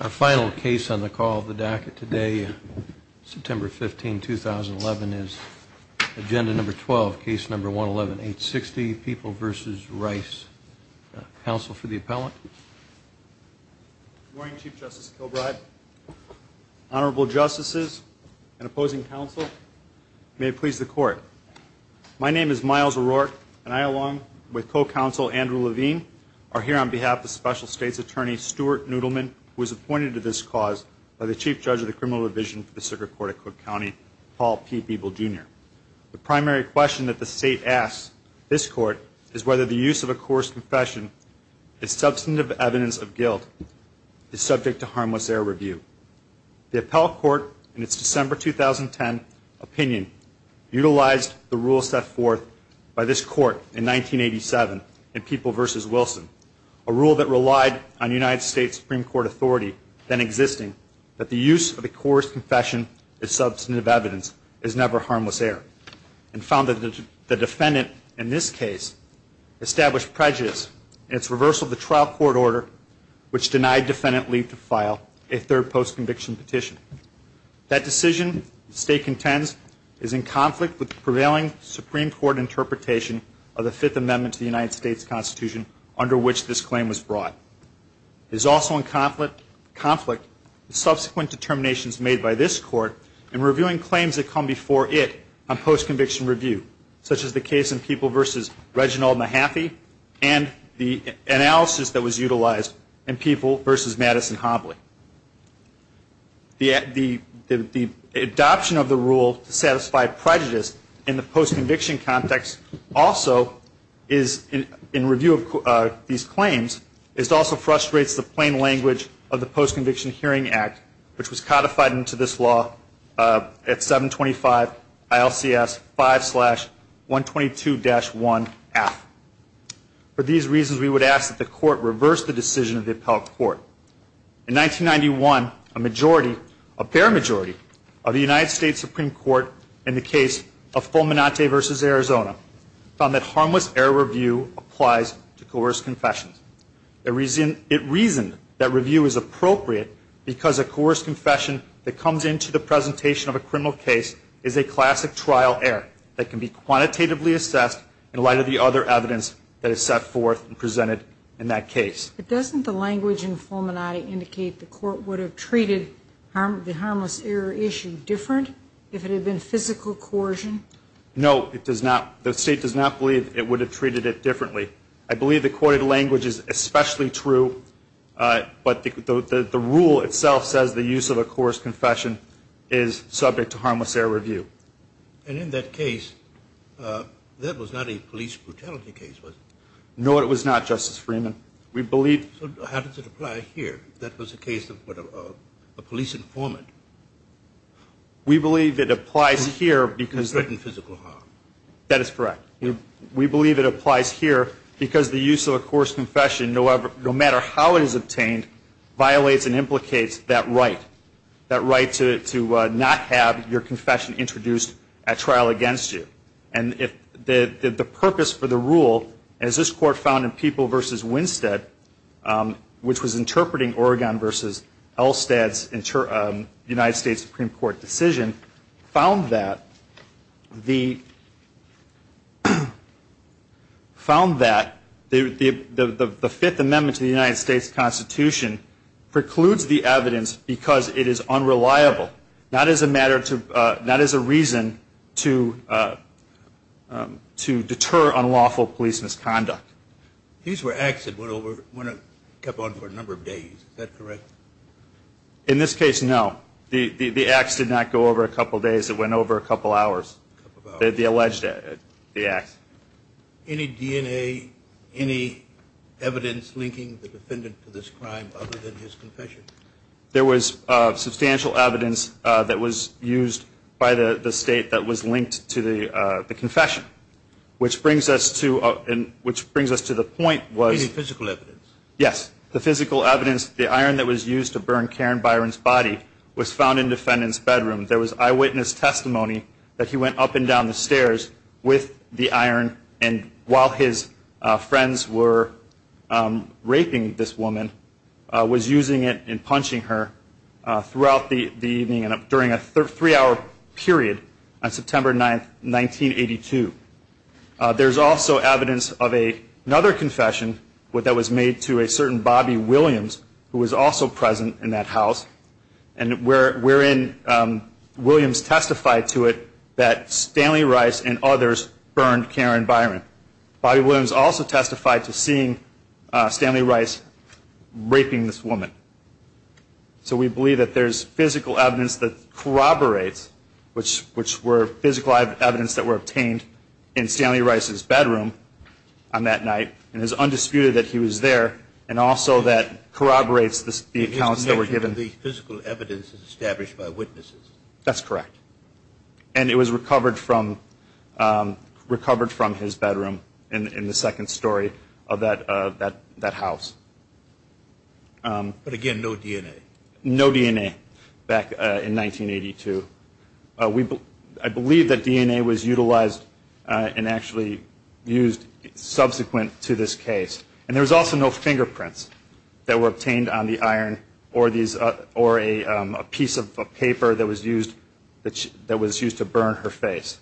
Our final case on the call of the docket today, September 15, 2011, is agenda number 12, case number 111-860, People v. Rice. Counsel for the appellant. Good morning, Chief Justice Kilbride. Honorable Justices and opposing counsel, may it please the Court. My name is Miles O'Rourke, and I, along with co-counsel Andrew Levine, are here on behalf of Special States Attorney Stuart Noodleman, who was appointed to this cause by the Chief Judge of the Criminal Division for the Circuit Court of Cook County, Paul P. Beeble, Jr. The primary question that the State asks this Court is whether the use of a coarse confession as substantive evidence of guilt is subject to harmless error review. The Appellate Court, in its December 2010 opinion, utilized the rule set forth by this Court in 1987 in People v. Wilson, a rule that relied on United States Supreme Court authority then existing, that the use of a coarse confession as substantive evidence is never harmless error, and found that the defendant in this case established prejudice in its reversal of the trial court order, which denied defendant leave to file a third post-conviction petition. That decision, the State contends, is in conflict with the prevailing Supreme Court interpretation of the Fifth Amendment to the United States Constitution under which this claim was brought. It is also in conflict with subsequent determinations made by this Court in reviewing claims that come before it on post-conviction review, such as the case in People v. Reginald Mahaffey and the analysis that was utilized in People v. Madison-Hobley. The adoption of the rule to satisfy prejudice in the post-conviction context also, in review of these claims, also frustrates the plain language of the Post-Conviction Hearing Act, which was codified into this law at 725 ILCS 5-122-1F. For these reasons, we would ask that the Court reverse the decision of the Appellate Court. In 1991, a majority, a bare majority, of the United States Supreme Court in the case of Fulminante v. Arizona found that harmless error review applies to coerced confessions. It reasoned that review is appropriate because a coerced confession that comes into the presentation of a criminal case is a classic trial error that can be quantitatively assessed in light of the other evidence that is set forth and presented in that case. But doesn't the language in Fulminante indicate the Court would have treated the harmless error issue different if it had been physical coercion? No, it does not. The State does not believe it would have treated it differently. I believe the courted language is especially true, but the rule itself says the use of a coerced confession is subject to harmless error review. And in that case, that was not a police brutality case, was it? No, it was not, Justice Freeman. So how does it apply here, if that was the case of a police informant? We believe it applies here because- It was written physical harm. That is correct. We believe it applies here because the use of a coerced confession, no matter how it is obtained, violates and implicates that right, that right to not have your confession introduced at trial against you. And the purpose for the rule, as this Court found in People v. Winstead, which was interpreting Oregon v. Elstad's United States Supreme Court decision, found that the Fifth Amendment to the United States Constitution precludes the evidence because it is unreliable. But not as a matter to, not as a reason to deter unlawful police misconduct. These were acts that went over, kept on for a number of days, is that correct? In this case, no. The acts did not go over a couple days. It went over a couple hours, the alleged acts. Any DNA, any evidence linking the defendant to this crime other than his confession? There was substantial evidence that was used by the State that was linked to the confession, which brings us to the point was- Any physical evidence? Yes. The physical evidence, the iron that was used to burn Karen Byron's body, was found in the defendant's bedroom. There was eyewitness testimony that he went up and down the stairs with the iron, and while his friends were raping this woman, was using it and punching her throughout the evening and during a three-hour period on September 9, 1982. There's also evidence of another confession that was made to a certain Bobby Williams, who was also present in that house, and wherein Williams testified to it that Stanley Rice and others burned Karen Byron. Bobby Williams also testified to seeing Stanley Rice raping this woman. So we believe that there's physical evidence that corroborates, which were physical evidence that were obtained in Stanley Rice's bedroom on that night, and it's undisputed that he was there, and also that corroborates the accounts that were given. The physical evidence is established by witnesses? That's correct, and it was recovered from his bedroom in the second story of that house. But again, no DNA? No DNA back in 1982. I believe that DNA was utilized and actually used subsequent to this case, and there was also no fingerprints that were obtained on the iron or a piece of paper that was used to burn her face.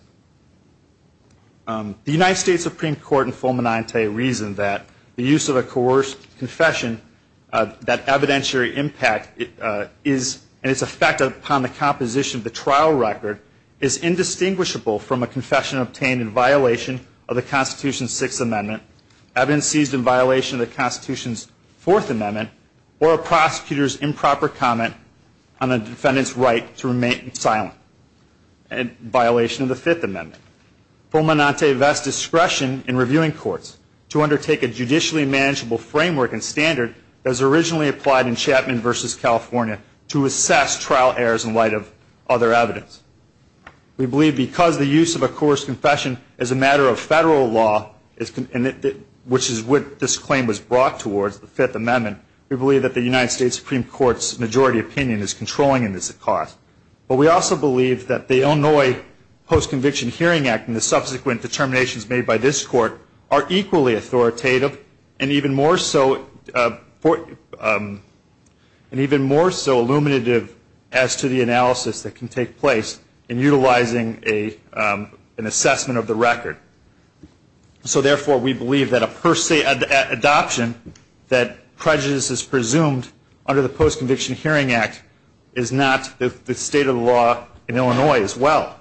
The United States Supreme Court in Fulminante reasoned that the use of a coerced confession, that evidentiary impact and its effect upon the composition of the trial record, is indistinguishable from a confession obtained in violation of the Constitution's Sixth Amendment, evidence seized in violation of the Constitution's Fourth Amendment, or a prosecutor's improper comment on a defendant's right to remain silent, in violation of the Fifth Amendment. Fulminante vests discretion in reviewing courts to undertake a judicially manageable framework and standard that was originally applied in Chapman v. California to assess trial errors in light of other evidence. We believe because the use of a coerced confession is a matter of federal law, which is what this claim was brought towards, the Fifth Amendment, we believe that the United States Supreme Court's majority opinion is controlling in this cause. But we also believe that the Illinois Post-Conviction Hearing Act and the subsequent determinations made by this Court are equally authoritative and even more so illuminative as to the analysis that can take place in utilizing an assessment of the record. So therefore, we believe that a per se adoption that prejudice is presumed under the Post-Conviction Hearing Act is not the state of the law in Illinois as well.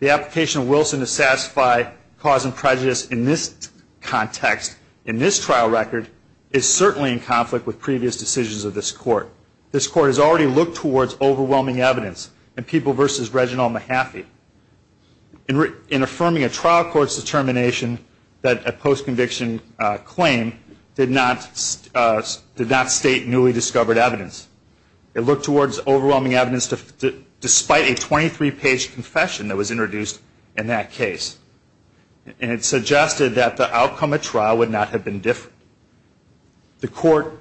The application of Wilson to satisfy cause and prejudice in this context, in this trial record, is certainly in conflict with previous decisions of this Court. This Court has already looked towards overwhelming evidence in People v. Reginald Mahaffey. In affirming a trial court's determination that a post-conviction claim did not state newly discovered evidence, it looked towards overwhelming evidence despite a 23-page confession that was introduced in that case. And it suggested that the outcome of trial would not have been different. The Court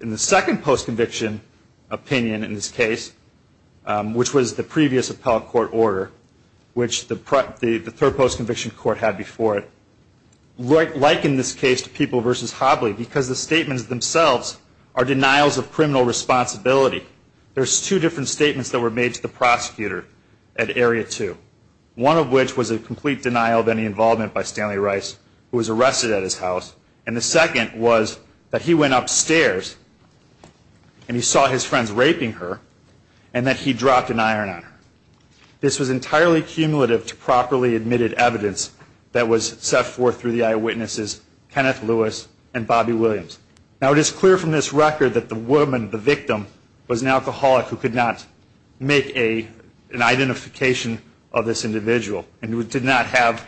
in the second post-conviction opinion in this case, which was the previous appellate court order, which the third post-conviction court had before it, likened this case to People v. Hobley because the statements themselves are denials of criminal responsibility. There's two different statements that were made to the prosecutor at Area 2, one of which was a complete denial of any involvement by Stanley Rice, who was arrested at his house, and the second was that he went upstairs and he saw his friends raping her and that he dropped an iron on her. This was entirely cumulative to properly admitted evidence that was set forth through the eyewitnesses Kenneth Lewis and Bobby Williams. Now, it is clear from this record that the woman, the victim, was an alcoholic who could not make an identification of this individual and did not have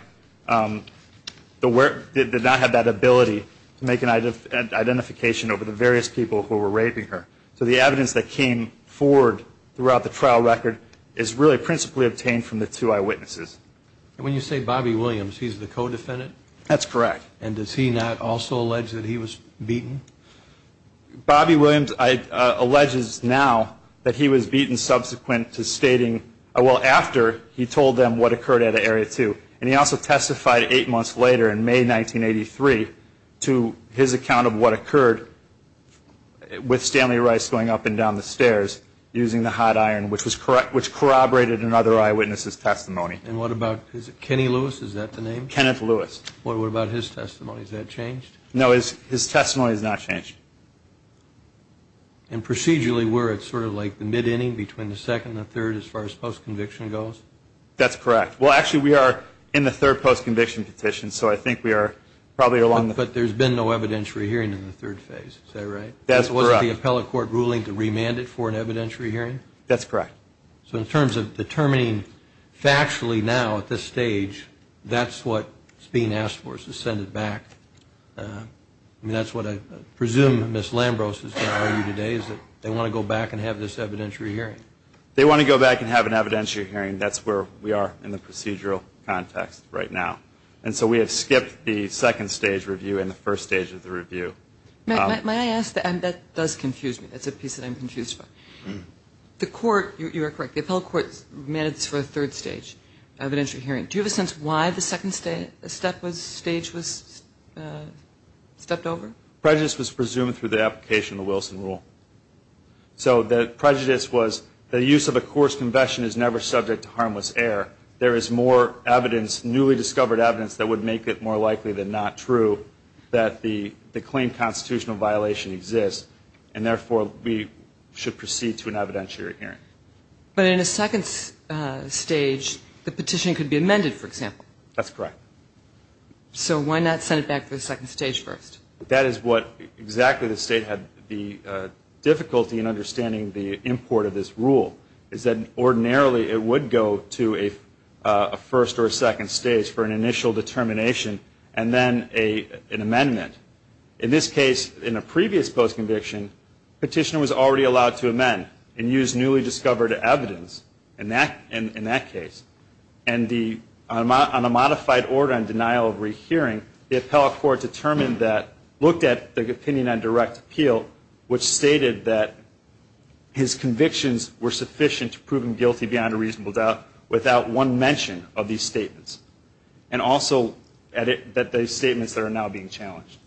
that ability to make an identification over the various people who were raping her. So the evidence that came forward throughout the trial record is really principally obtained from the two eyewitnesses. And when you say Bobby Williams, he's the co-defendant? That's correct. And does he not also allege that he was beaten? Bobby Williams alleges now that he was beaten subsequent to stating, well, after he told them what occurred at Area 2. And he also testified eight months later in May 1983 to his account of what occurred with Stanley Rice going up and down the stairs using the hot iron, which corroborated another eyewitness's testimony. And what about Kenny Lewis, is that the name? Kenneth Lewis. What about his testimony, has that changed? No, his testimony has not changed. And procedurally, were it sort of like the mid-inning between the second and the third as far as post-conviction goes? That's correct. Well, actually, we are in the third post-conviction petition, so I think we are probably along the... But there's been no evidentiary hearing in the third phase, is that right? That's correct. Was it the appellate court ruling to remand it for an evidentiary hearing? That's correct. So in terms of determining factually now at this stage, that's what's being asked for is to send it back. I mean, that's what I presume Ms. Lambros is going to argue today, is that they want to go back and have this evidentiary hearing. They want to go back and have an evidentiary hearing. That's where we are in the procedural context right now. And so we have skipped the second stage review and the first stage of the review. May I ask, and that does confuse me, that's a piece that I'm confused by. The court, you are correct, the appellate court remanded this for a third stage evidentiary hearing. Do you have a sense why the second stage was stepped over? Prejudice was presumed through the application of the Wilson Rule. So the prejudice was the use of a coarse confession is never subject to harmless error. There is more evidence, newly discovered evidence, that would make it more likely than not true that the claimed constitutional violation exists, and therefore we should proceed to an evidentiary hearing. But in a second stage, the petition could be amended, for example. That's correct. So why not send it back to the second stage first? That is what exactly the State had the difficulty in understanding the import of this rule, is that ordinarily it would go to a first or second stage for an initial determination and then an amendment. In this case, in a previous post-conviction, the petitioner was already allowed to amend and use newly discovered evidence in that case. And on a modified order on denial of rehearing, the appellate court determined that, looked at the opinion on direct appeal, which stated that his convictions were sufficient to prove him guilty beyond a reasonable doubt without one mention of these statements, and also that those statements that are now being challenged.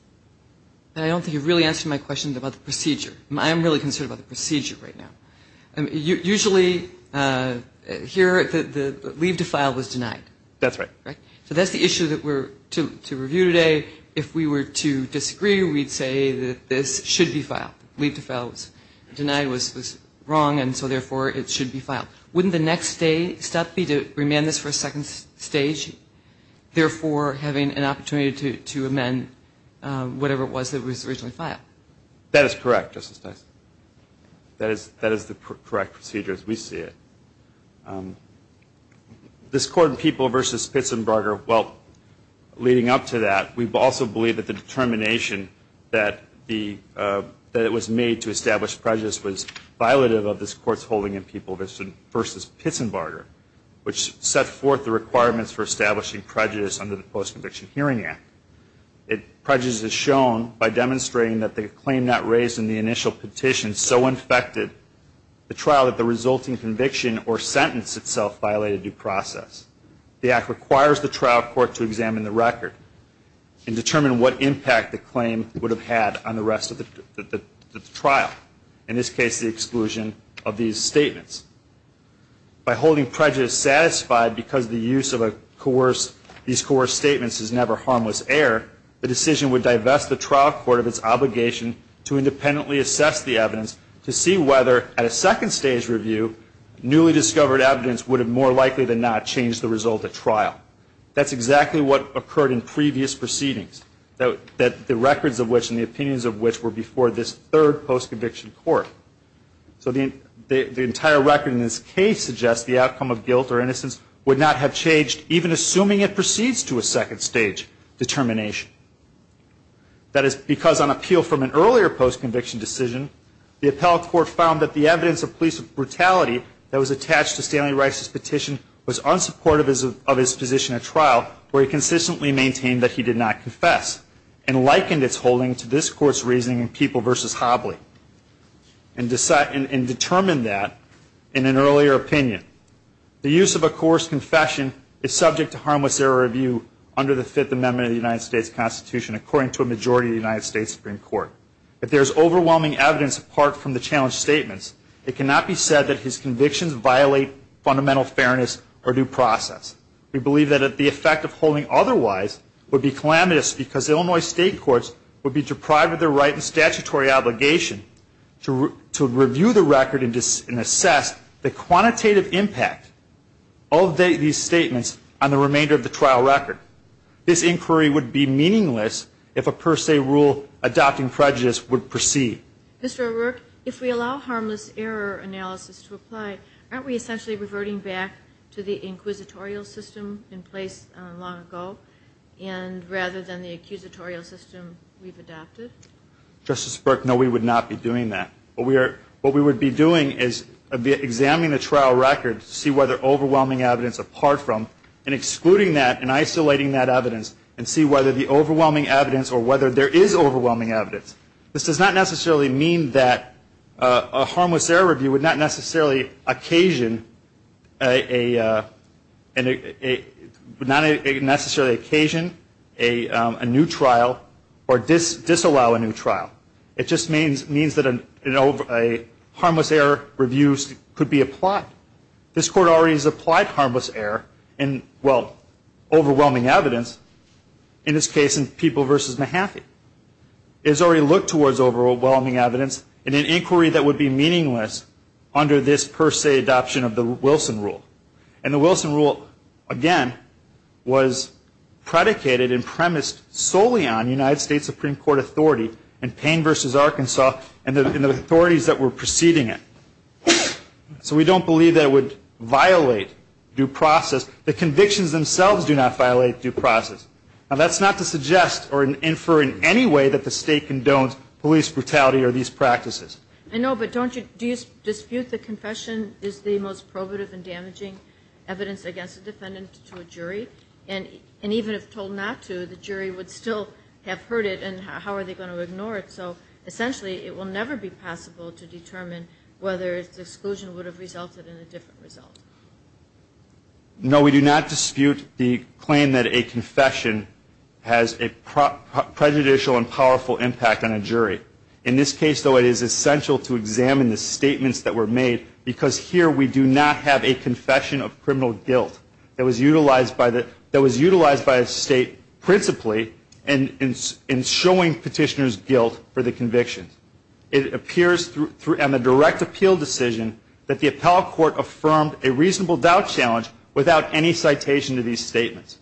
I don't think you've really answered my question about the procedure. I am really concerned about the procedure right now. Usually here the leave to file was denied. That's right. So that's the issue that we're to review today. If we were to disagree, we'd say that this should be filed. Wouldn't the next step be to remand this for a second stage, therefore having an opportunity to amend whatever it was that was originally filed? That is correct, Justice Dyson. That is the correct procedure as we see it. This Court in People v. Pitsenberger, well, leading up to that, we also believe that the determination that it was made to establish prejudice was violative of this Court's holding in People v. Pitsenberger, which set forth the requirements for establishing prejudice under the Post-Conviction Hearing Act. Prejudice is shown by demonstrating that the claim not raised in the initial petition so infected the trial that the resulting conviction or sentence itself violated due process. The Act requires the trial court to examine the record and determine what impact the claim would have had on the rest of the trial, in this case the exclusion of these statements. By holding prejudice satisfied because the use of these coerced statements is never harmless error, the decision would divest the trial court of its obligation to independently assess the evidence to see whether, at a second stage review, newly discovered evidence would have more likely than not changed the result of trial. That's exactly what occurred in previous proceedings, the records of which and the opinions of which were before this third post-conviction court. So the entire record in this case suggests the outcome of guilt or innocence would not have changed, even assuming it proceeds to a second stage determination. That is because on appeal from an earlier post-conviction decision, the appellate court found that the evidence of police brutality that was attached to Stanley Rice's petition was unsupportive of his position at trial, where he consistently maintained that he did not confess and likened its holding to this Court's reasoning in People v. Hobley and determined that in an earlier opinion. The use of a coerced confession is subject to harmless error review under the Fifth Amendment of the United States Constitution, according to a majority of the United States Supreme Court. If there is overwhelming evidence apart from the challenged statements, it cannot be said that his convictions violate fundamental fairness or due process. We believe that the effect of holding otherwise would be calamitous because Illinois state courts would be deprived of their right and statutory obligation to review the record and assess the quantitative impact of these statements on the remainder of the trial record. This inquiry would be meaningless if a per se rule adopting prejudice would proceed. Mr. O'Rourke, if we allow harmless error analysis to apply, aren't we essentially reverting back to the inquisitorial system in place long ago rather than the accusatorial system we've adopted? Justice Burke, no, we would not be doing that. What we would be doing is examining the trial record to see whether overwhelming evidence apart from and excluding that and isolating that evidence and see whether the overwhelming evidence or whether there is overwhelming evidence. This does not necessarily mean that a harmless error review would not necessarily occasion a new trial or disallow a new trial. It just means that a harmless error review could be applied. This Court already has applied harmless error in, well, overwhelming evidence, in this case in People v. Mahaffey. It has already looked towards overwhelming evidence in an inquiry that would be meaningless under this per se adoption of the Wilson Rule. And the Wilson Rule, again, was predicated and premised solely on United States Supreme Court authority and Payne v. Arkansas and the authorities that were preceding it. So we don't believe that it would violate due process. The convictions themselves do not violate due process. Now, that's not to suggest or infer in any way that the State condones police brutality or these practices. I know, but don't you dispute the confession is the most probative and damaging evidence against a defendant to a jury? And even if told not to, the jury would still have heard it, and how are they going to ignore it? So essentially it will never be possible to determine whether exclusion would have resulted in a different result. No, we do not dispute the claim that a confession has a prejudicial and powerful impact on a jury. In this case, though, it is essential to examine the statements that were made because here we do not have a confession of criminal guilt that was utilized by a State principally in showing petitioner's guilt for the conviction. It appears on the direct appeal decision that the appellate court affirmed a reasonable doubt challenge without any citation to these statements.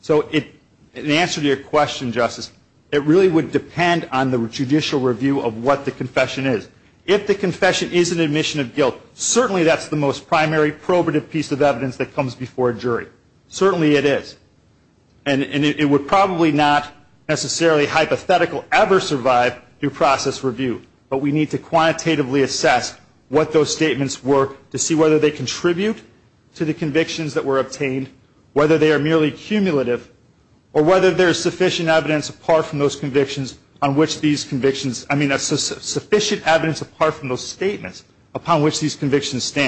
So in answer to your question, Justice, it really would depend on the judicial review of what the confession is. If the confession is an admission of guilt, certainly that's the most primary probative piece of evidence that comes before a jury. Certainly it is. And it would probably not necessarily hypothetically ever survive due process review, but we need to quantitatively assess what those statements were to see whether they contribute to the convictions that were obtained, whether they are merely cumulative, or whether there is sufficient evidence apart from those statements upon which these convictions stand.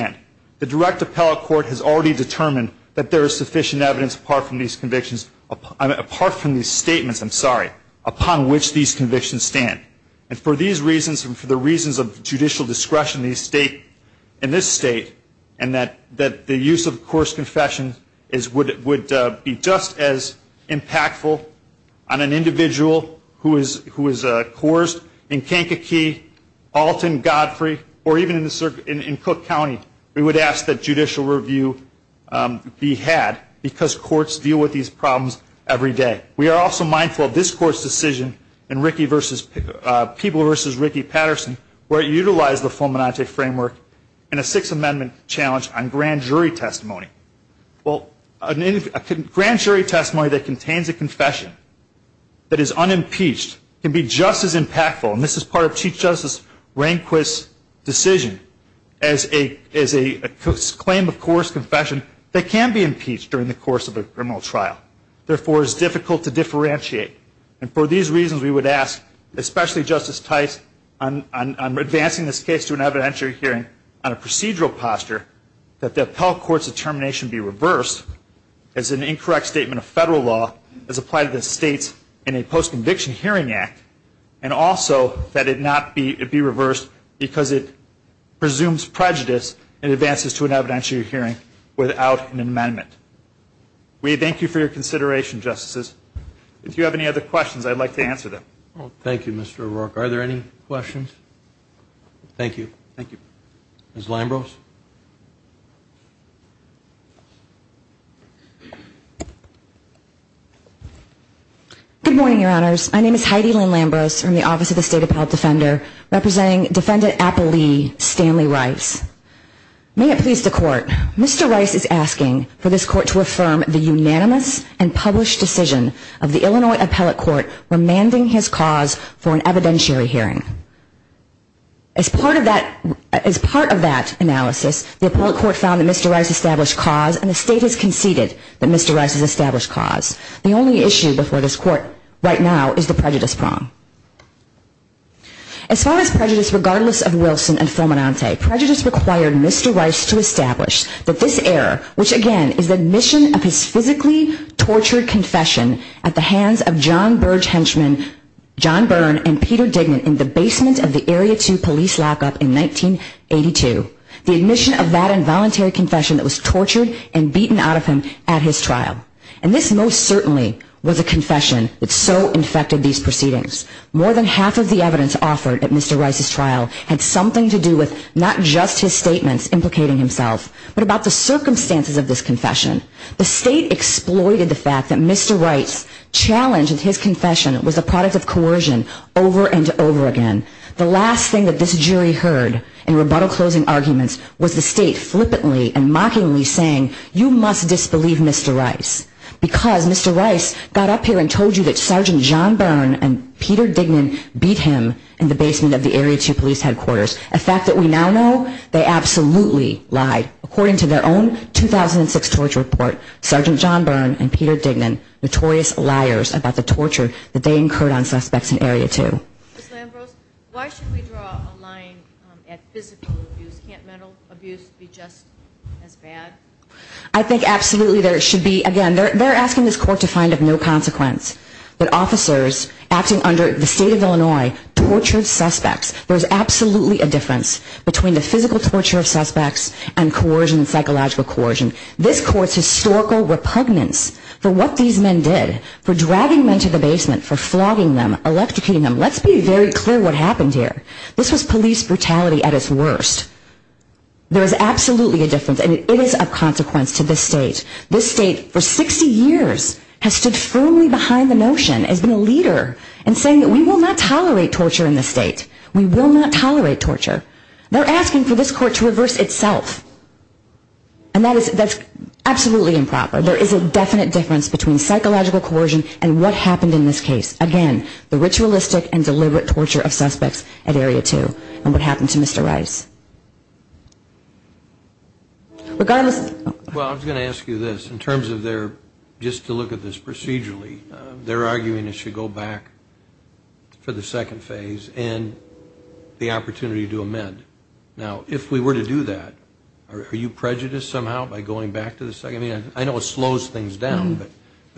Again, the direct appellate court has already determined that there is sufficient evidence apart from these statements upon which these convictions stand. And for these reasons and for the reasons of judicial discretion in this State and that the use of coerced confession would be just as impactful on an individual who is coerced in Kankakee, Alton, Godfrey, or even in Cook County, we would ask that judicial review be had because courts deal with these problems every day. We are also mindful of this Court's decision in Peeble v. Ricky Patterson where it utilized the Fomenante framework in a Sixth Amendment challenge on grand jury testimony. Well, a grand jury testimony that contains a confession that is unimpeached can be just as impactful, and this is part of Chief Justice Rehnquist's decision, as a claim of coerced confession that can be impeached during the course of a criminal trial, therefore is difficult to differentiate. And for these reasons we would ask, especially Justice Tice, on advancing this case to an evidentiary hearing on a procedural posture, that the appellate court's determination be reversed as an incorrect statement of federal law as applied to the States in a post-conviction hearing act, and also that it not be reversed because it presumes prejudice and advances to an evidentiary hearing without an amendment. We thank you for your consideration, Justices. If you have any other questions, I'd like to answer them. Thank you, Mr. O'Rourke. Are there any questions? Thank you. Thank you. Ms. Lambrose. Good morning, Your Honors. My name is Heidi Lynn Lambrose from the Office of the State Appellate Defender, representing Defendant Appellee Stanley Rice. May it please the Court, Mr. Rice is asking for this Court to affirm the unanimous and published decision of the Illinois Appellate Court remanding his cause for an evidentiary hearing. As part of that analysis, the Appellate Court found that Mr. Rice established cause and the State has conceded that Mr. Rice has established cause. The only issue before this Court right now is the prejudice prong. As far as prejudice, regardless of Wilson and Fulminante, prejudice required Mr. Rice to establish that this error, which again is the admission of his physically tortured confession at the hands of John Burge Henchman, John Byrne, and Peter Dignan in the basement of the Area 2 police lockup in 1982, the admission of that involuntary confession that was tortured and beaten out of him at his trial. And this most certainly was a confession that so infected these proceedings. More than half of the evidence offered at Mr. Rice's trial had something to do with not just his statements implicating himself, but about the circumstances of this confession. The State exploited the fact that Mr. Rice's challenge of his confession was a product of coercion over and over again. The last thing that this jury heard in rebuttal closing arguments was the State flippantly and mockingly saying, you must disbelieve Mr. Rice. Because Mr. Rice got up here and told you that Sergeant John Byrne and Peter Dignan beat him in the basement of the Area 2 police headquarters. A fact that we now know, they absolutely lied. According to their own 2006 torture report, Sergeant John Byrne and Peter Dignan notorious liars about the torture that they incurred on suspects in Area 2. Ms. Lambrose, why should we draw a line at physical abuse? Can't mental abuse be just as bad? I think absolutely there should be. Again, they're asking this court to find of no consequence that officers acting under the State of Illinois tortured suspects. There's absolutely a difference between the physical torture of suspects and coercion, psychological coercion. This court's historical repugnance for what these men did, for dragging men to the basement, for flogging them, electrocuting them. Let's be very clear what happened here. This was police brutality at its worst. There is absolutely a difference and it is of consequence to this state. This state for 60 years has stood firmly behind the notion, has been a leader in saying that we will not tolerate torture in this state. We will not tolerate torture. They're asking for this court to reverse itself. And that is absolutely improper. There is a definite difference between psychological coercion and what happened in this case. Again, the ritualistic and deliberate torture of suspects at Area 2 and what happened to Mr. Rice. Well, I was going to ask you this. In terms of their, just to look at this procedurally, they're arguing it should go back for the second phase and the opportunity to amend. Now, if we were to do that, are you prejudiced somehow by going back to the second phase? I know it slows things down, but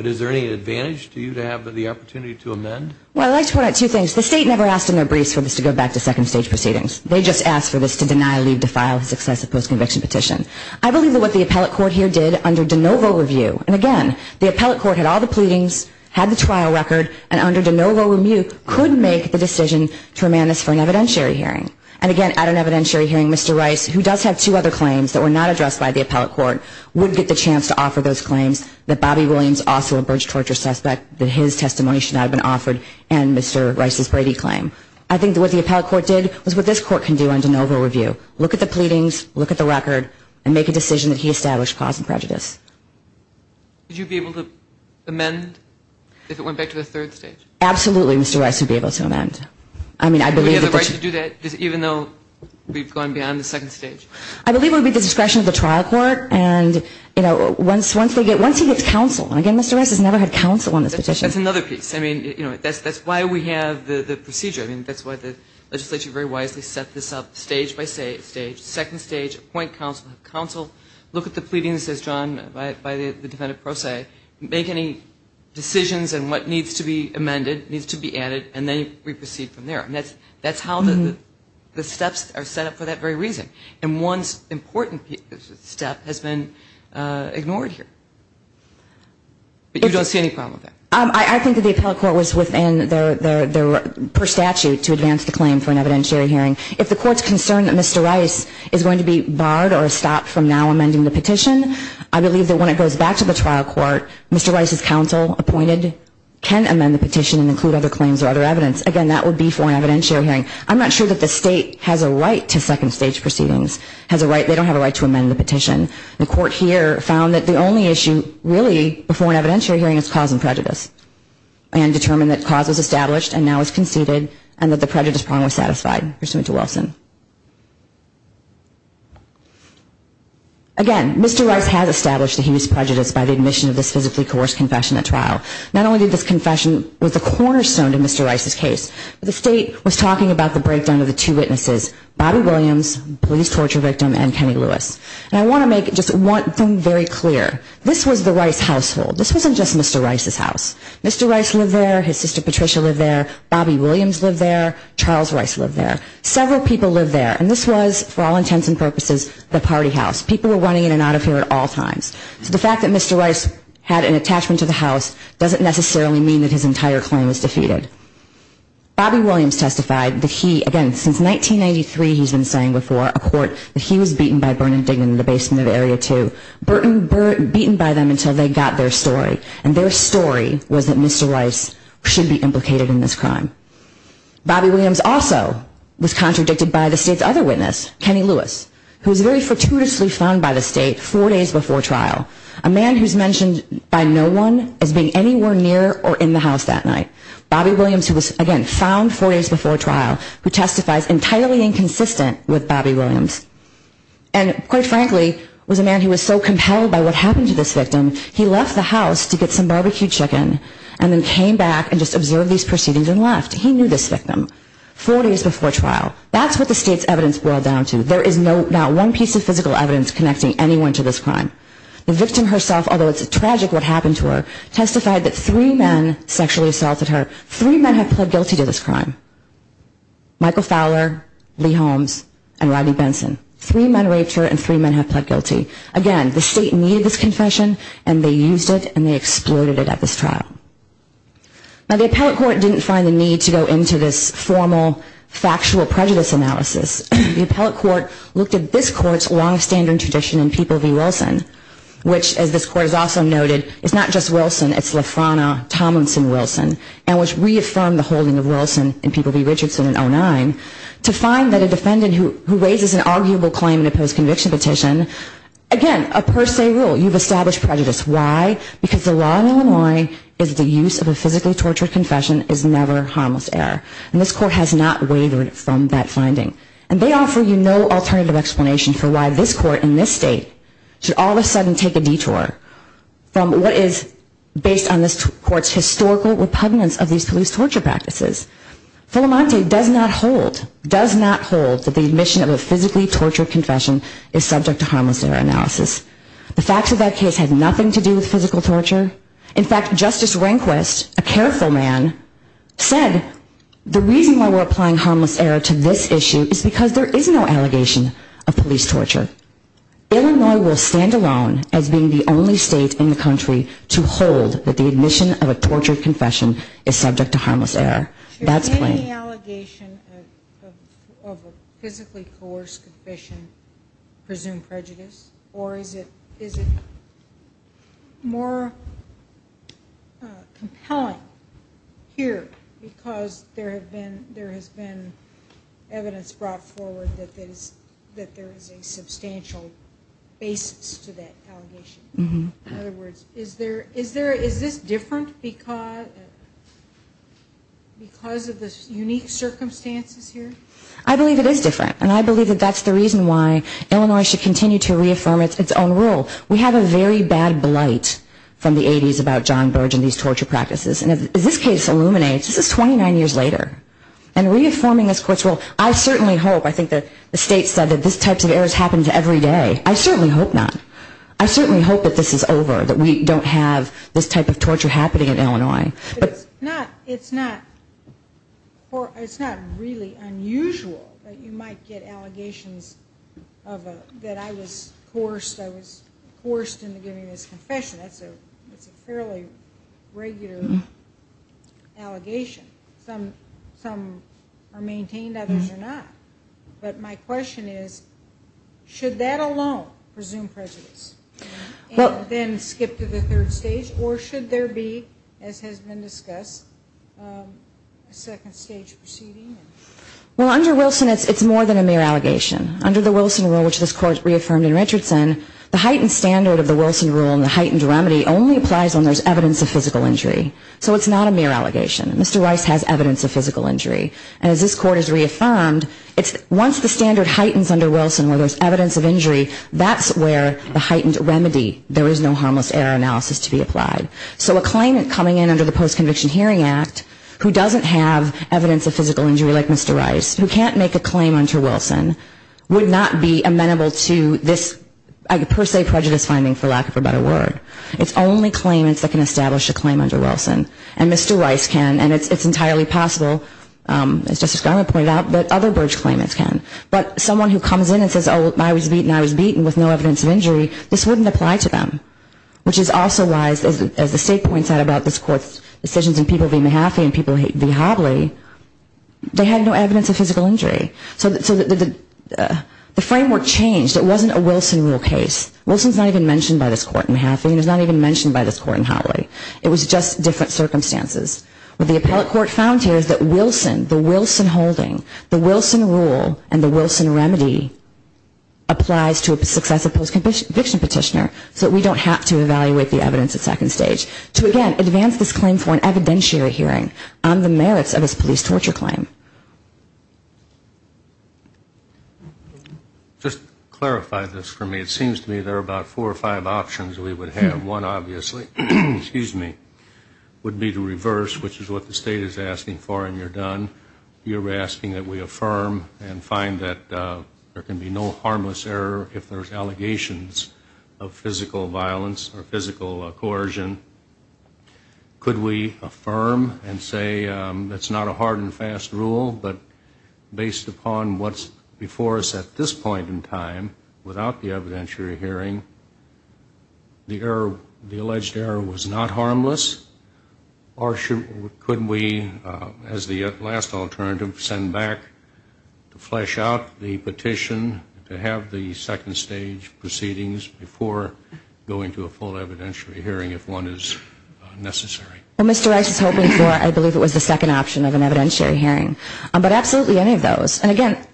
is there any advantage to you to have the opportunity to amend? Well, I'd like to point out two things. The state never asked in their briefs for this to go back to second stage proceedings. They just asked for this to deny, leave, defile, and success a post-conviction petition. I believe that what the appellate court here did under de novo review, and again, the appellate court had all the pleadings, had the trial record, and under de novo review could make the decision to remand this for an evidentiary hearing. And again, at an evidentiary hearing, Mr. Rice, who does have two other claims that were not addressed by the appellate court, would get the chance to offer those claims, that Bobby Williams, also a Burge torture suspect, that his testimony should not have been offered, and Mr. Rice's Brady claim. I think what the appellate court did was what this court can do under de novo review. Look at the pleadings, look at the record, and make a decision that he established cause of prejudice. Would you be able to amend if it went back to the third stage? Absolutely, Mr. Rice would be able to amend. Would he have the right to do that, even though we've gone beyond the second stage? I believe it would be at the discretion of the trial court. And once he gets counsel, and again, Mr. Rice has never had counsel on this petition. That's another piece. I mean, that's why we have the procedure. I mean, that's why the legislature very wisely set this up, stage by stage. Second stage, appoint counsel. Counsel, look at the pleadings as drawn by the defendant pro se, make any decisions on what needs to be amended, needs to be added, and then we proceed from there. That's how the steps are set up for that very reason. And one important step has been ignored here. But you don't see any problem with that? I think that the appellate court was within their statute to advance the claim for an evidentiary hearing. If the court's concerned that Mr. Rice is going to be barred or stopped from now amending the petition, I believe that when it goes back to the trial court, Mr. Rice's counsel appointed can amend the petition and include other claims or other evidence. Again, that would be for an evidentiary hearing. I'm not sure that the state has a right to second stage proceedings. They don't have a right to amend the petition. The court here found that the only issue really before an evidentiary hearing is cause and prejudice and determined that cause was established and now is conceded and that the prejudice problem was satisfied pursuant to Wilson. Again, Mr. Rice has established the heinous prejudice by the admission of this physically coerced confession at trial. Not only did this confession with a cornerstone to Mr. Rice's case, but the state was talking about the breakdown of the two witnesses, Bobby Williams, police torture victim, and Kenny Lewis. And I want to make just one thing very clear. This was the Rice household. This wasn't just Mr. Rice's house. Mr. Rice lived there. His sister Patricia lived there. Bobby Williams lived there. Charles Rice lived there. Several people lived there. And this was, for all intents and purposes, the party house. People were running in and out of here at all times. So the fact that Mr. Rice had an attachment to the house doesn't necessarily mean that his entire claim was defeated. Bobby Williams testified that he, again, since 1993, he's been saying before, a court, that he was beaten by Bernard Dignan in the basement of Area 2. Beaten by them until they got their story. And their story was that Mr. Rice should be implicated in this crime. Bobby Williams also was contradicted by the state's other witness, Kenny Lewis, who was very fortuitously found by the state four days before trial. A man who's mentioned by no one as being anywhere near or in the house that night. Bobby Williams, who was, again, found four days before trial, who testifies entirely inconsistent with Bobby Williams. And, quite frankly, was a man who was so compelled by what happened to this victim, he left the house to get some barbecued chicken, and then came back and just observed these proceedings and left. He knew this victim. Four days before trial. That's what the state's evidence boiled down to. There is not one piece of physical evidence connecting anyone to this crime. The victim herself, although it's tragic what happened to her, testified that three men sexually assaulted her. Three men have pled guilty to this crime. Michael Fowler, Lee Holmes, and Rodney Benson. Three men raped her and three men have pled guilty. Again, the state needed this confession, and they used it, and they exploited it at this trial. Now, the appellate court didn't find the need to go into this formal, factual prejudice analysis. The appellate court looked at this court's long-standing tradition in People v. Wilson, which, as this court has also noted, is not just Wilson. It's Lafrona, Tomlinson, Wilson, and which reaffirmed the holding of Wilson in People v. Richardson in 2009 to find that a defendant who raises an arguable claim in a post-conviction petition again, a per se rule. You've established prejudice. Why? Because the law in Illinois is that the use of a physically tortured confession is never harmless error. And this court has not wavered from that finding. And they offer you no alternative explanation for why this court in this state should all of a sudden take a detour from what is based on this court's historical repugnance of these police torture practices. Fulamonte does not hold, does not hold that the admission of a physically tortured confession is subject to harmless error analysis. The facts of that case had nothing to do with physical torture. In fact, Justice Rehnquist, a careful man, said the reason why we're applying harmless error to this issue is because there is no allegation of police torture. Illinois will stand alone as being the only state in the country to hold that the admission of a tortured confession is subject to harmless error. That's plain. Is any allegation of a physically coerced confession presumed prejudice? Or is it more compelling here because there has been evidence brought forward that there is a substantial basis to that allegation? In other words, is this different because of the unique circumstances here? I believe it is different. And I believe that that's the reason why Illinois should continue to reaffirm its own rule. We have a very bad blight from the 80s about John Burge and these torture practices. And as this case illuminates, this is 29 years later. And reaffirming this court's rule, I certainly hope, I think the state said that this type of error happens every day. I certainly hope not. I certainly hope that this is over, that we don't have this type of torture happening in Illinois. It's not really unusual that you might get allegations that I was coerced. I was coerced into giving this confession. That's a fairly regular allegation. Some are maintained, others are not. But my question is, should that alone presume prejudice? And then skip to the third stage? Or should there be, as has been discussed, a second stage proceeding? Well, under Wilson, it's more than a mere allegation. Under the Wilson rule, which this court reaffirmed in Richardson, the heightened standard of the Wilson rule and the heightened remedy only applies when there's evidence of physical injury. So it's not a mere allegation. Mr. Rice has evidence of physical injury. And as this court has reaffirmed, once the standard heightens under Wilson where there's evidence of injury, that's where the heightened remedy, there is no harmless error analysis to be applied. So a claimant coming in under the Post-Conviction Hearing Act who doesn't have evidence of physical injury like Mr. Rice, who can't make a claim under Wilson, would not be amenable to this per se prejudice finding, for lack of a better word. It's only claimants that can establish a claim under Wilson. And Mr. Rice can, and it's entirely possible, as Justice Garland pointed out, that other bridge claimants can. But someone who comes in and says, oh, I was beaten, I was beaten, with no evidence of injury, this wouldn't apply to them. Which is also why, as the State points out about this court's decisions in people v. Mahaffey and people v. Hawley, they had no evidence of physical injury. So the framework changed. It wasn't a Wilson rule case. Wilson's not even mentioned by this court in Mahaffey and it's not even mentioned by this court in Hawley. It was just different circumstances. What the appellate court found here is that Wilson, the Wilson holding, the Wilson rule and the Wilson remedy applies to a successive post-conviction petitioner so that we don't have to evaluate the evidence at second stage to, again, advance this claim for an evidentiary hearing on the merits of this police torture claim. Just clarify this for me. It seems to me there are about four or five options we would have. One, obviously, would be to reverse, which is what the State is asking for, and you're done. You're asking that we affirm and find that there can be no harmless error if there's allegations of physical violence or physical coercion. Could we affirm and say that's not a hard and fast rule, but based upon what's before us at this point in time, without the evidentiary hearing, the alleged error was not harmless? Or could we, as the last alternative, send back to flesh out the petition to have the second stage proceedings before going to a full evidentiary hearing if one is necessary? Well, Mr. Rice is hoping for, I believe it was the second option of an evidentiary hearing, but absolutely any of those. And, again,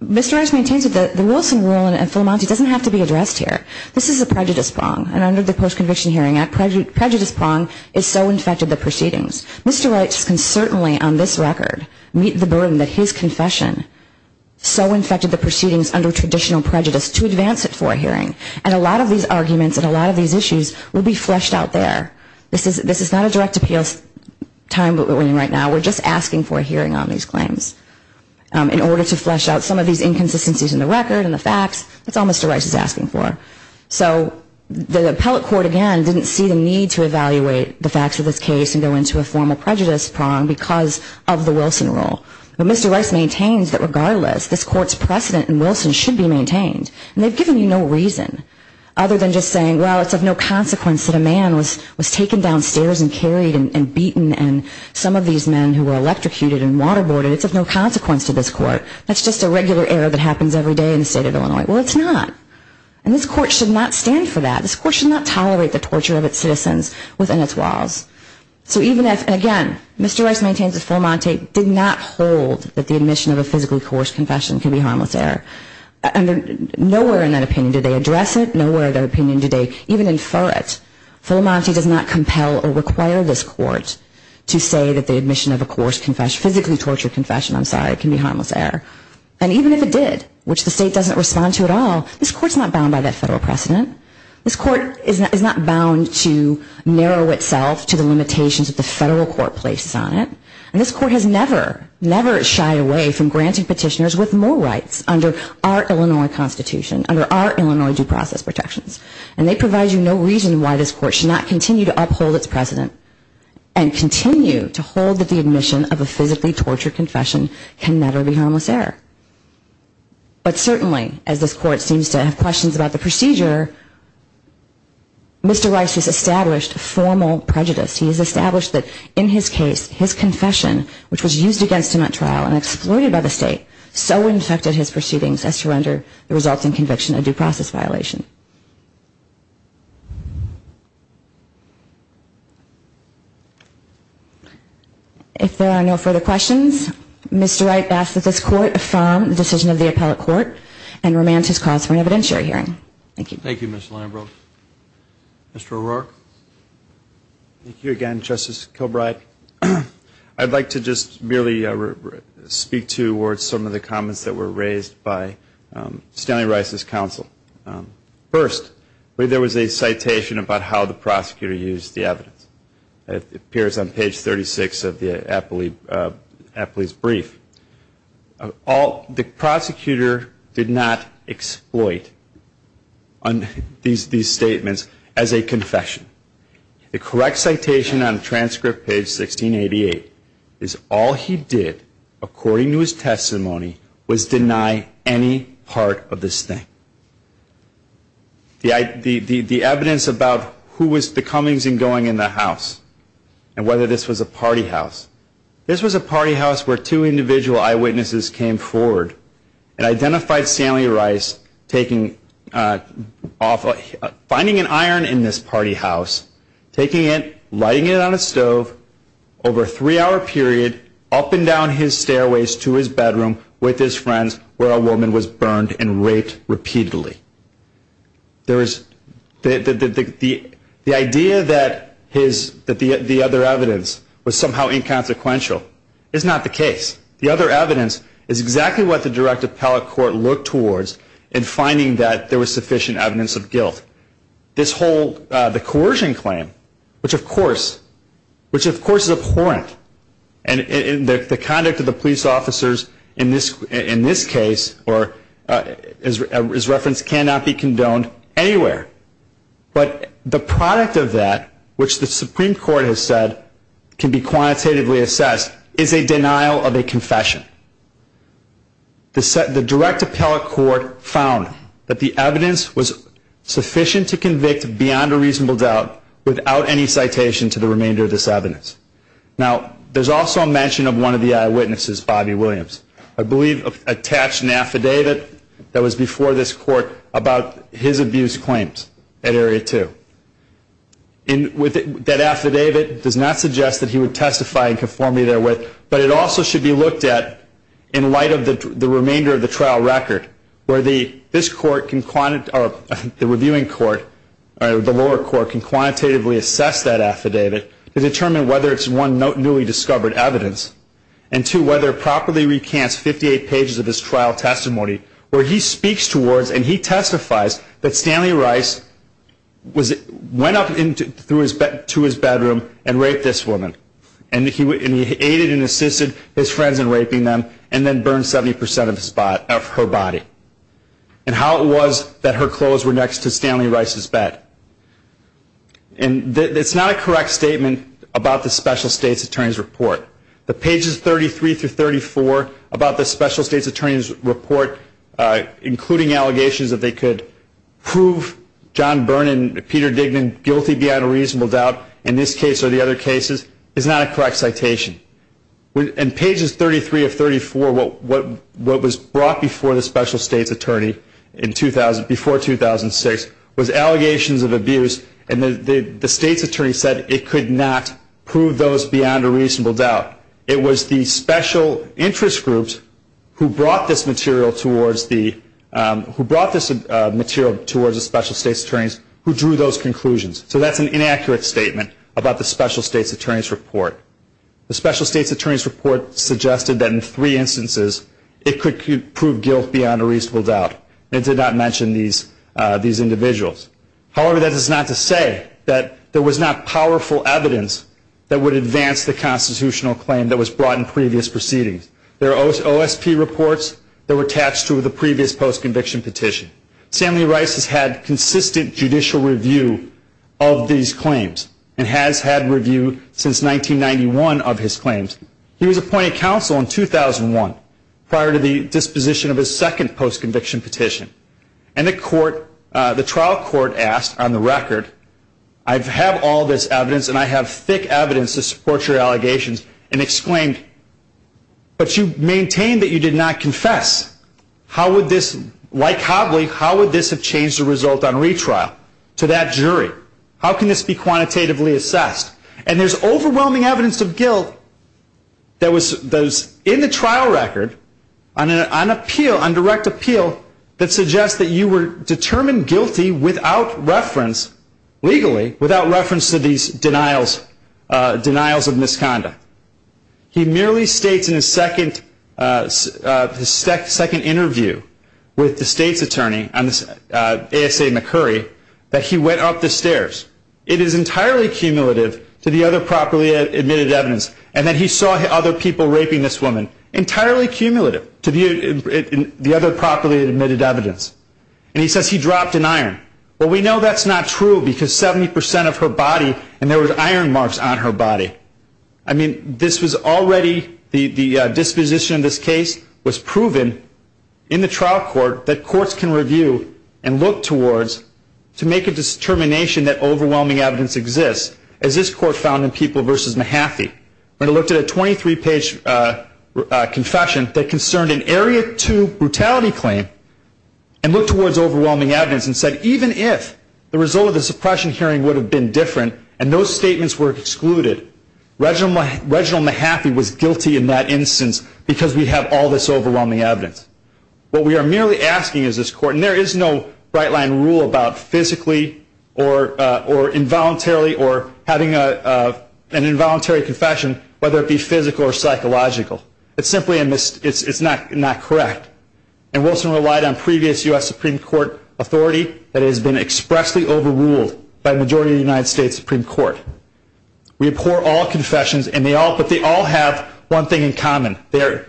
Mr. Rice maintains that the Wilson rule in Philamonte doesn't have to be addressed here. This is a prejudice prong, and under the post-conviction hearing, that prejudice prong is so infected the proceedings. Mr. Rice can certainly, on this record, meet the burden that his confession so infected the proceedings under traditional prejudice to advance it for a hearing. And a lot of these arguments and a lot of these issues will be fleshed out there. This is not a direct appeals time that we're in right now. We're just asking for a hearing on these claims. In order to flesh out some of these inconsistencies in the record and the facts, that's all Mr. Rice is asking for. So the appellate court, again, didn't see the need to evaluate the facts of this case and go into a formal prejudice prong because of the Wilson rule. But Mr. Rice maintains that, regardless, this court's precedent in Wilson should be maintained. And they've given you no reason other than just saying, well, it's of no consequence that a man was taken downstairs and carried and beaten and some of these men who were electrocuted and waterboarded, it's of no consequence to this court. That's just a regular error that happens every day in the state of Illinois. Well, it's not. And this court should not stand for that. This court should not tolerate the torture of its citizens within its walls. So even if, again, Mr. Rice maintains that Fremont did not hold that the admission of a physically coerced confession can be a harmless error. Nowhere in that opinion did they address it. Nowhere in that opinion did they even infer it. Fremont does not compel or require this court to say that the admission of a coerced confession, physically tortured confession, I'm sorry, can be a harmless error. And even if it did, which the state doesn't respond to at all, this court's not bound by that federal precedent. This court is not bound to narrow itself to the limitations that the federal court places on it. And this court has never, never shied away from granting petitioners with more rights under our Illinois Constitution, under our Illinois due process protections. And they provide you no reason why this court should not continue to uphold its precedent and continue to hold that the admission of a physically tortured confession can never be a harmless error. But certainly, as this court seems to have questions about the procedure, Mr. Rice has established formal prejudice. He has established that in his case, his confession, which was used against him at trial and exploited by the state, so infected his proceedings as to render the resulting conviction a due process violation. If there are no further questions, Mr. Rice asks that this court affirm the decision of the appellate court and remand his cause for an evidentiary hearing. Thank you. Thank you, Ms. Lambert. Mr. O'Rourke. Thank you again, Justice Kilbride. I'd like to just merely speak towards some of the comments that were raised by Stanley Rice's counsel. First, there was a citation about how the prosecutor used the evidence. It appears on page 36 of the appellee's brief. The prosecutor did not exploit these statements as a confession. The correct citation on transcript page 1688 is, all he did, according to his testimony, was deny any part of this thing. The evidence about who was the comings and goings in the house and whether this was a party house, this was a party house where two individual eyewitnesses came forward and identified Stanley Rice finding an iron in this party house, taking it, lighting it on a stove, over a three-hour period, up and down his stairways to his bedroom with his friends, where a woman was burned and raped repeatedly. The idea that the other evidence was somehow inconsequential is not the case. The other evidence is exactly what the direct appellate court looked towards in finding that there was sufficient evidence of guilt. This whole, the coercion claim, which of course is abhorrent, and the conduct of the police officers in this case, or as referenced, cannot be condoned anywhere. But the product of that, which the Supreme Court has said can be quantitatively assessed, is a denial of a confession. The direct appellate court found that the evidence was sufficient to convict beyond a reasonable doubt without any citation to the remainder of this evidence. Now, there's also a mention of one of the eyewitnesses, Bobby Williams, I believe attached an affidavit that was before this court about his abuse claims at Area 2. That affidavit does not suggest that he would testify in conformity therewith, but it also should be looked at in light of the remainder of the trial record, where the reviewing court, the lower court, can quantitatively assess that affidavit to determine whether it's, one, newly discovered evidence, and two, whether it properly recants 58 pages of his trial testimony, where he speaks towards and he testifies that Stanley Rice went up to his bedroom and raped this woman. And he aided and assisted his friends in raping them and then burned 70% of her body. And how it was that her clothes were next to Stanley Rice's bed. And it's not a correct statement about the special state's attorney's report. The pages 33 through 34 about the special state's attorney's report, including allegations that they could prove John Byrne and Peter Dignan guilty beyond a reasonable doubt, in this case or the other cases, is not a correct citation. In pages 33 of 34, what was brought before the special state's attorney, before 2006, was allegations of abuse and the state's attorney said it could not prove those beyond a reasonable doubt. It was the special interest groups who brought this material towards the special state's attorneys who drew those conclusions. So that's an inaccurate statement about the special state's attorney's report. The special state's attorney's report suggested that in three instances it could prove guilt beyond a reasonable doubt. It did not mention these individuals. However, that is not to say that there was not powerful evidence that would advance the constitutional claim that was brought in previous proceedings. There are OSP reports that were attached to the previous post-conviction petition. Stanley Rice has had consistent judicial review of these claims and has had review since 1991 of his claims. He was appointed counsel in 2001 prior to the disposition of his second post-conviction petition. And the trial court asked on the record, I have all this evidence and I have thick evidence to support your allegations, and exclaimed, but you maintain that you did not confess. How would this, like Hobley, how would this have changed the result on retrial to that jury? How can this be quantitatively assessed? And there's overwhelming evidence of guilt that was in the trial record on appeal, on direct appeal, that suggests that you were determined guilty without reference, legally, without reference to these denials of misconduct. He merely states in his second interview with the state's attorney, ASA McCurry, that he went up the stairs. It is entirely cumulative to the other properly admitted evidence. And that he saw other people raping this woman. Entirely cumulative to the other properly admitted evidence. And he says he dropped an iron. Well, we know that's not true because 70% of her body, and there were iron marks on her body. I mean, this was already, the disposition of this case was proven in the trial court that courts can review and look towards to make a determination that overwhelming evidence exists. As this court found in People v. Mahaffey, when it looked at a 23-page confession that concerned an Area 2 brutality claim and looked towards overwhelming evidence and said even if the result of the suppression hearing would have been different and those statements were excluded, Reginald Mahaffey was guilty in that instance because we have all this overwhelming evidence. What we are merely asking is this court, and there is no right line rule about physically or involuntarily or having an involuntary confession, whether it be physical or psychological. It's simply not correct. And Wilson relied on previous U.S. Supreme Court authority that has been expressly overruled by a majority of the United States Supreme Court. We abhor all confessions, but they all have one thing in common. They are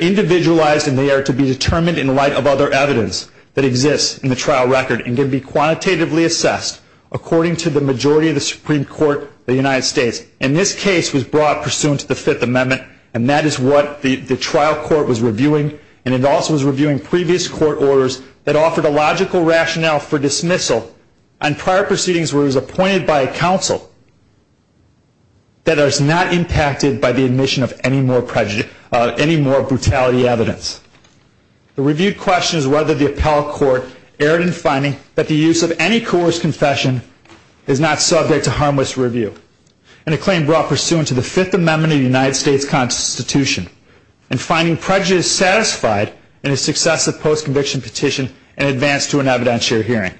individualized and they are to be determined in light of other evidence that exists in the trial record and can be quantitatively assessed according to the majority of the Supreme Court of the United States. And this case was brought pursuant to the Fifth Amendment and that is what the trial court was reviewing and it also was reviewing previous court orders that offered a logical rationale for dismissal and prior proceedings where it was appointed by a counsel that is not impacted by the admission of any more brutality evidence. The review questions whether the appellate court erred in finding that the use of any coerced confession is not subject to harmless review. And a claim brought pursuant to the Fifth Amendment of the United States Constitution and finding prejudice satisfied in a successive post-conviction petition in advance to an evidentiary hearing.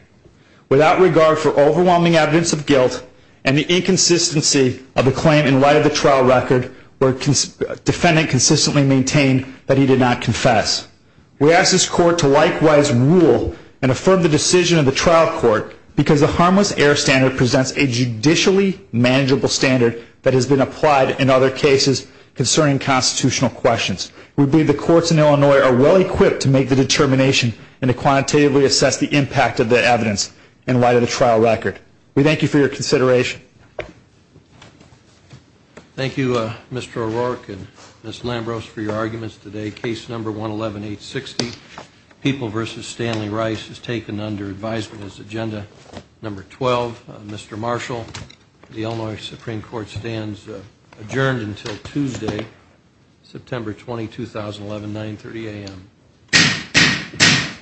Without regard for overwhelming evidence of guilt and the inconsistency of the claim in light of the trial record where defendant consistently maintained that he did not confess. We ask this court to likewise rule and affirm the decision of the trial court because the harmless error standard presents a judicially manageable standard that has been applied in other cases concerning constitutional questions. We believe the courts in Illinois are well equipped to make the determination and to quantitatively assess the impact of the evidence in light of the trial record. We thank you for your consideration. Thank you Mr. O'Rourke and Ms. Lambros for your arguments today. Case number 111860, People v. Stanley Rice is taken under advisement as agenda number 12. Mr. Marshall, the Illinois Supreme Court stands adjourned until Tuesday, September 20, 2011, 930 a.m. The court is adjourned.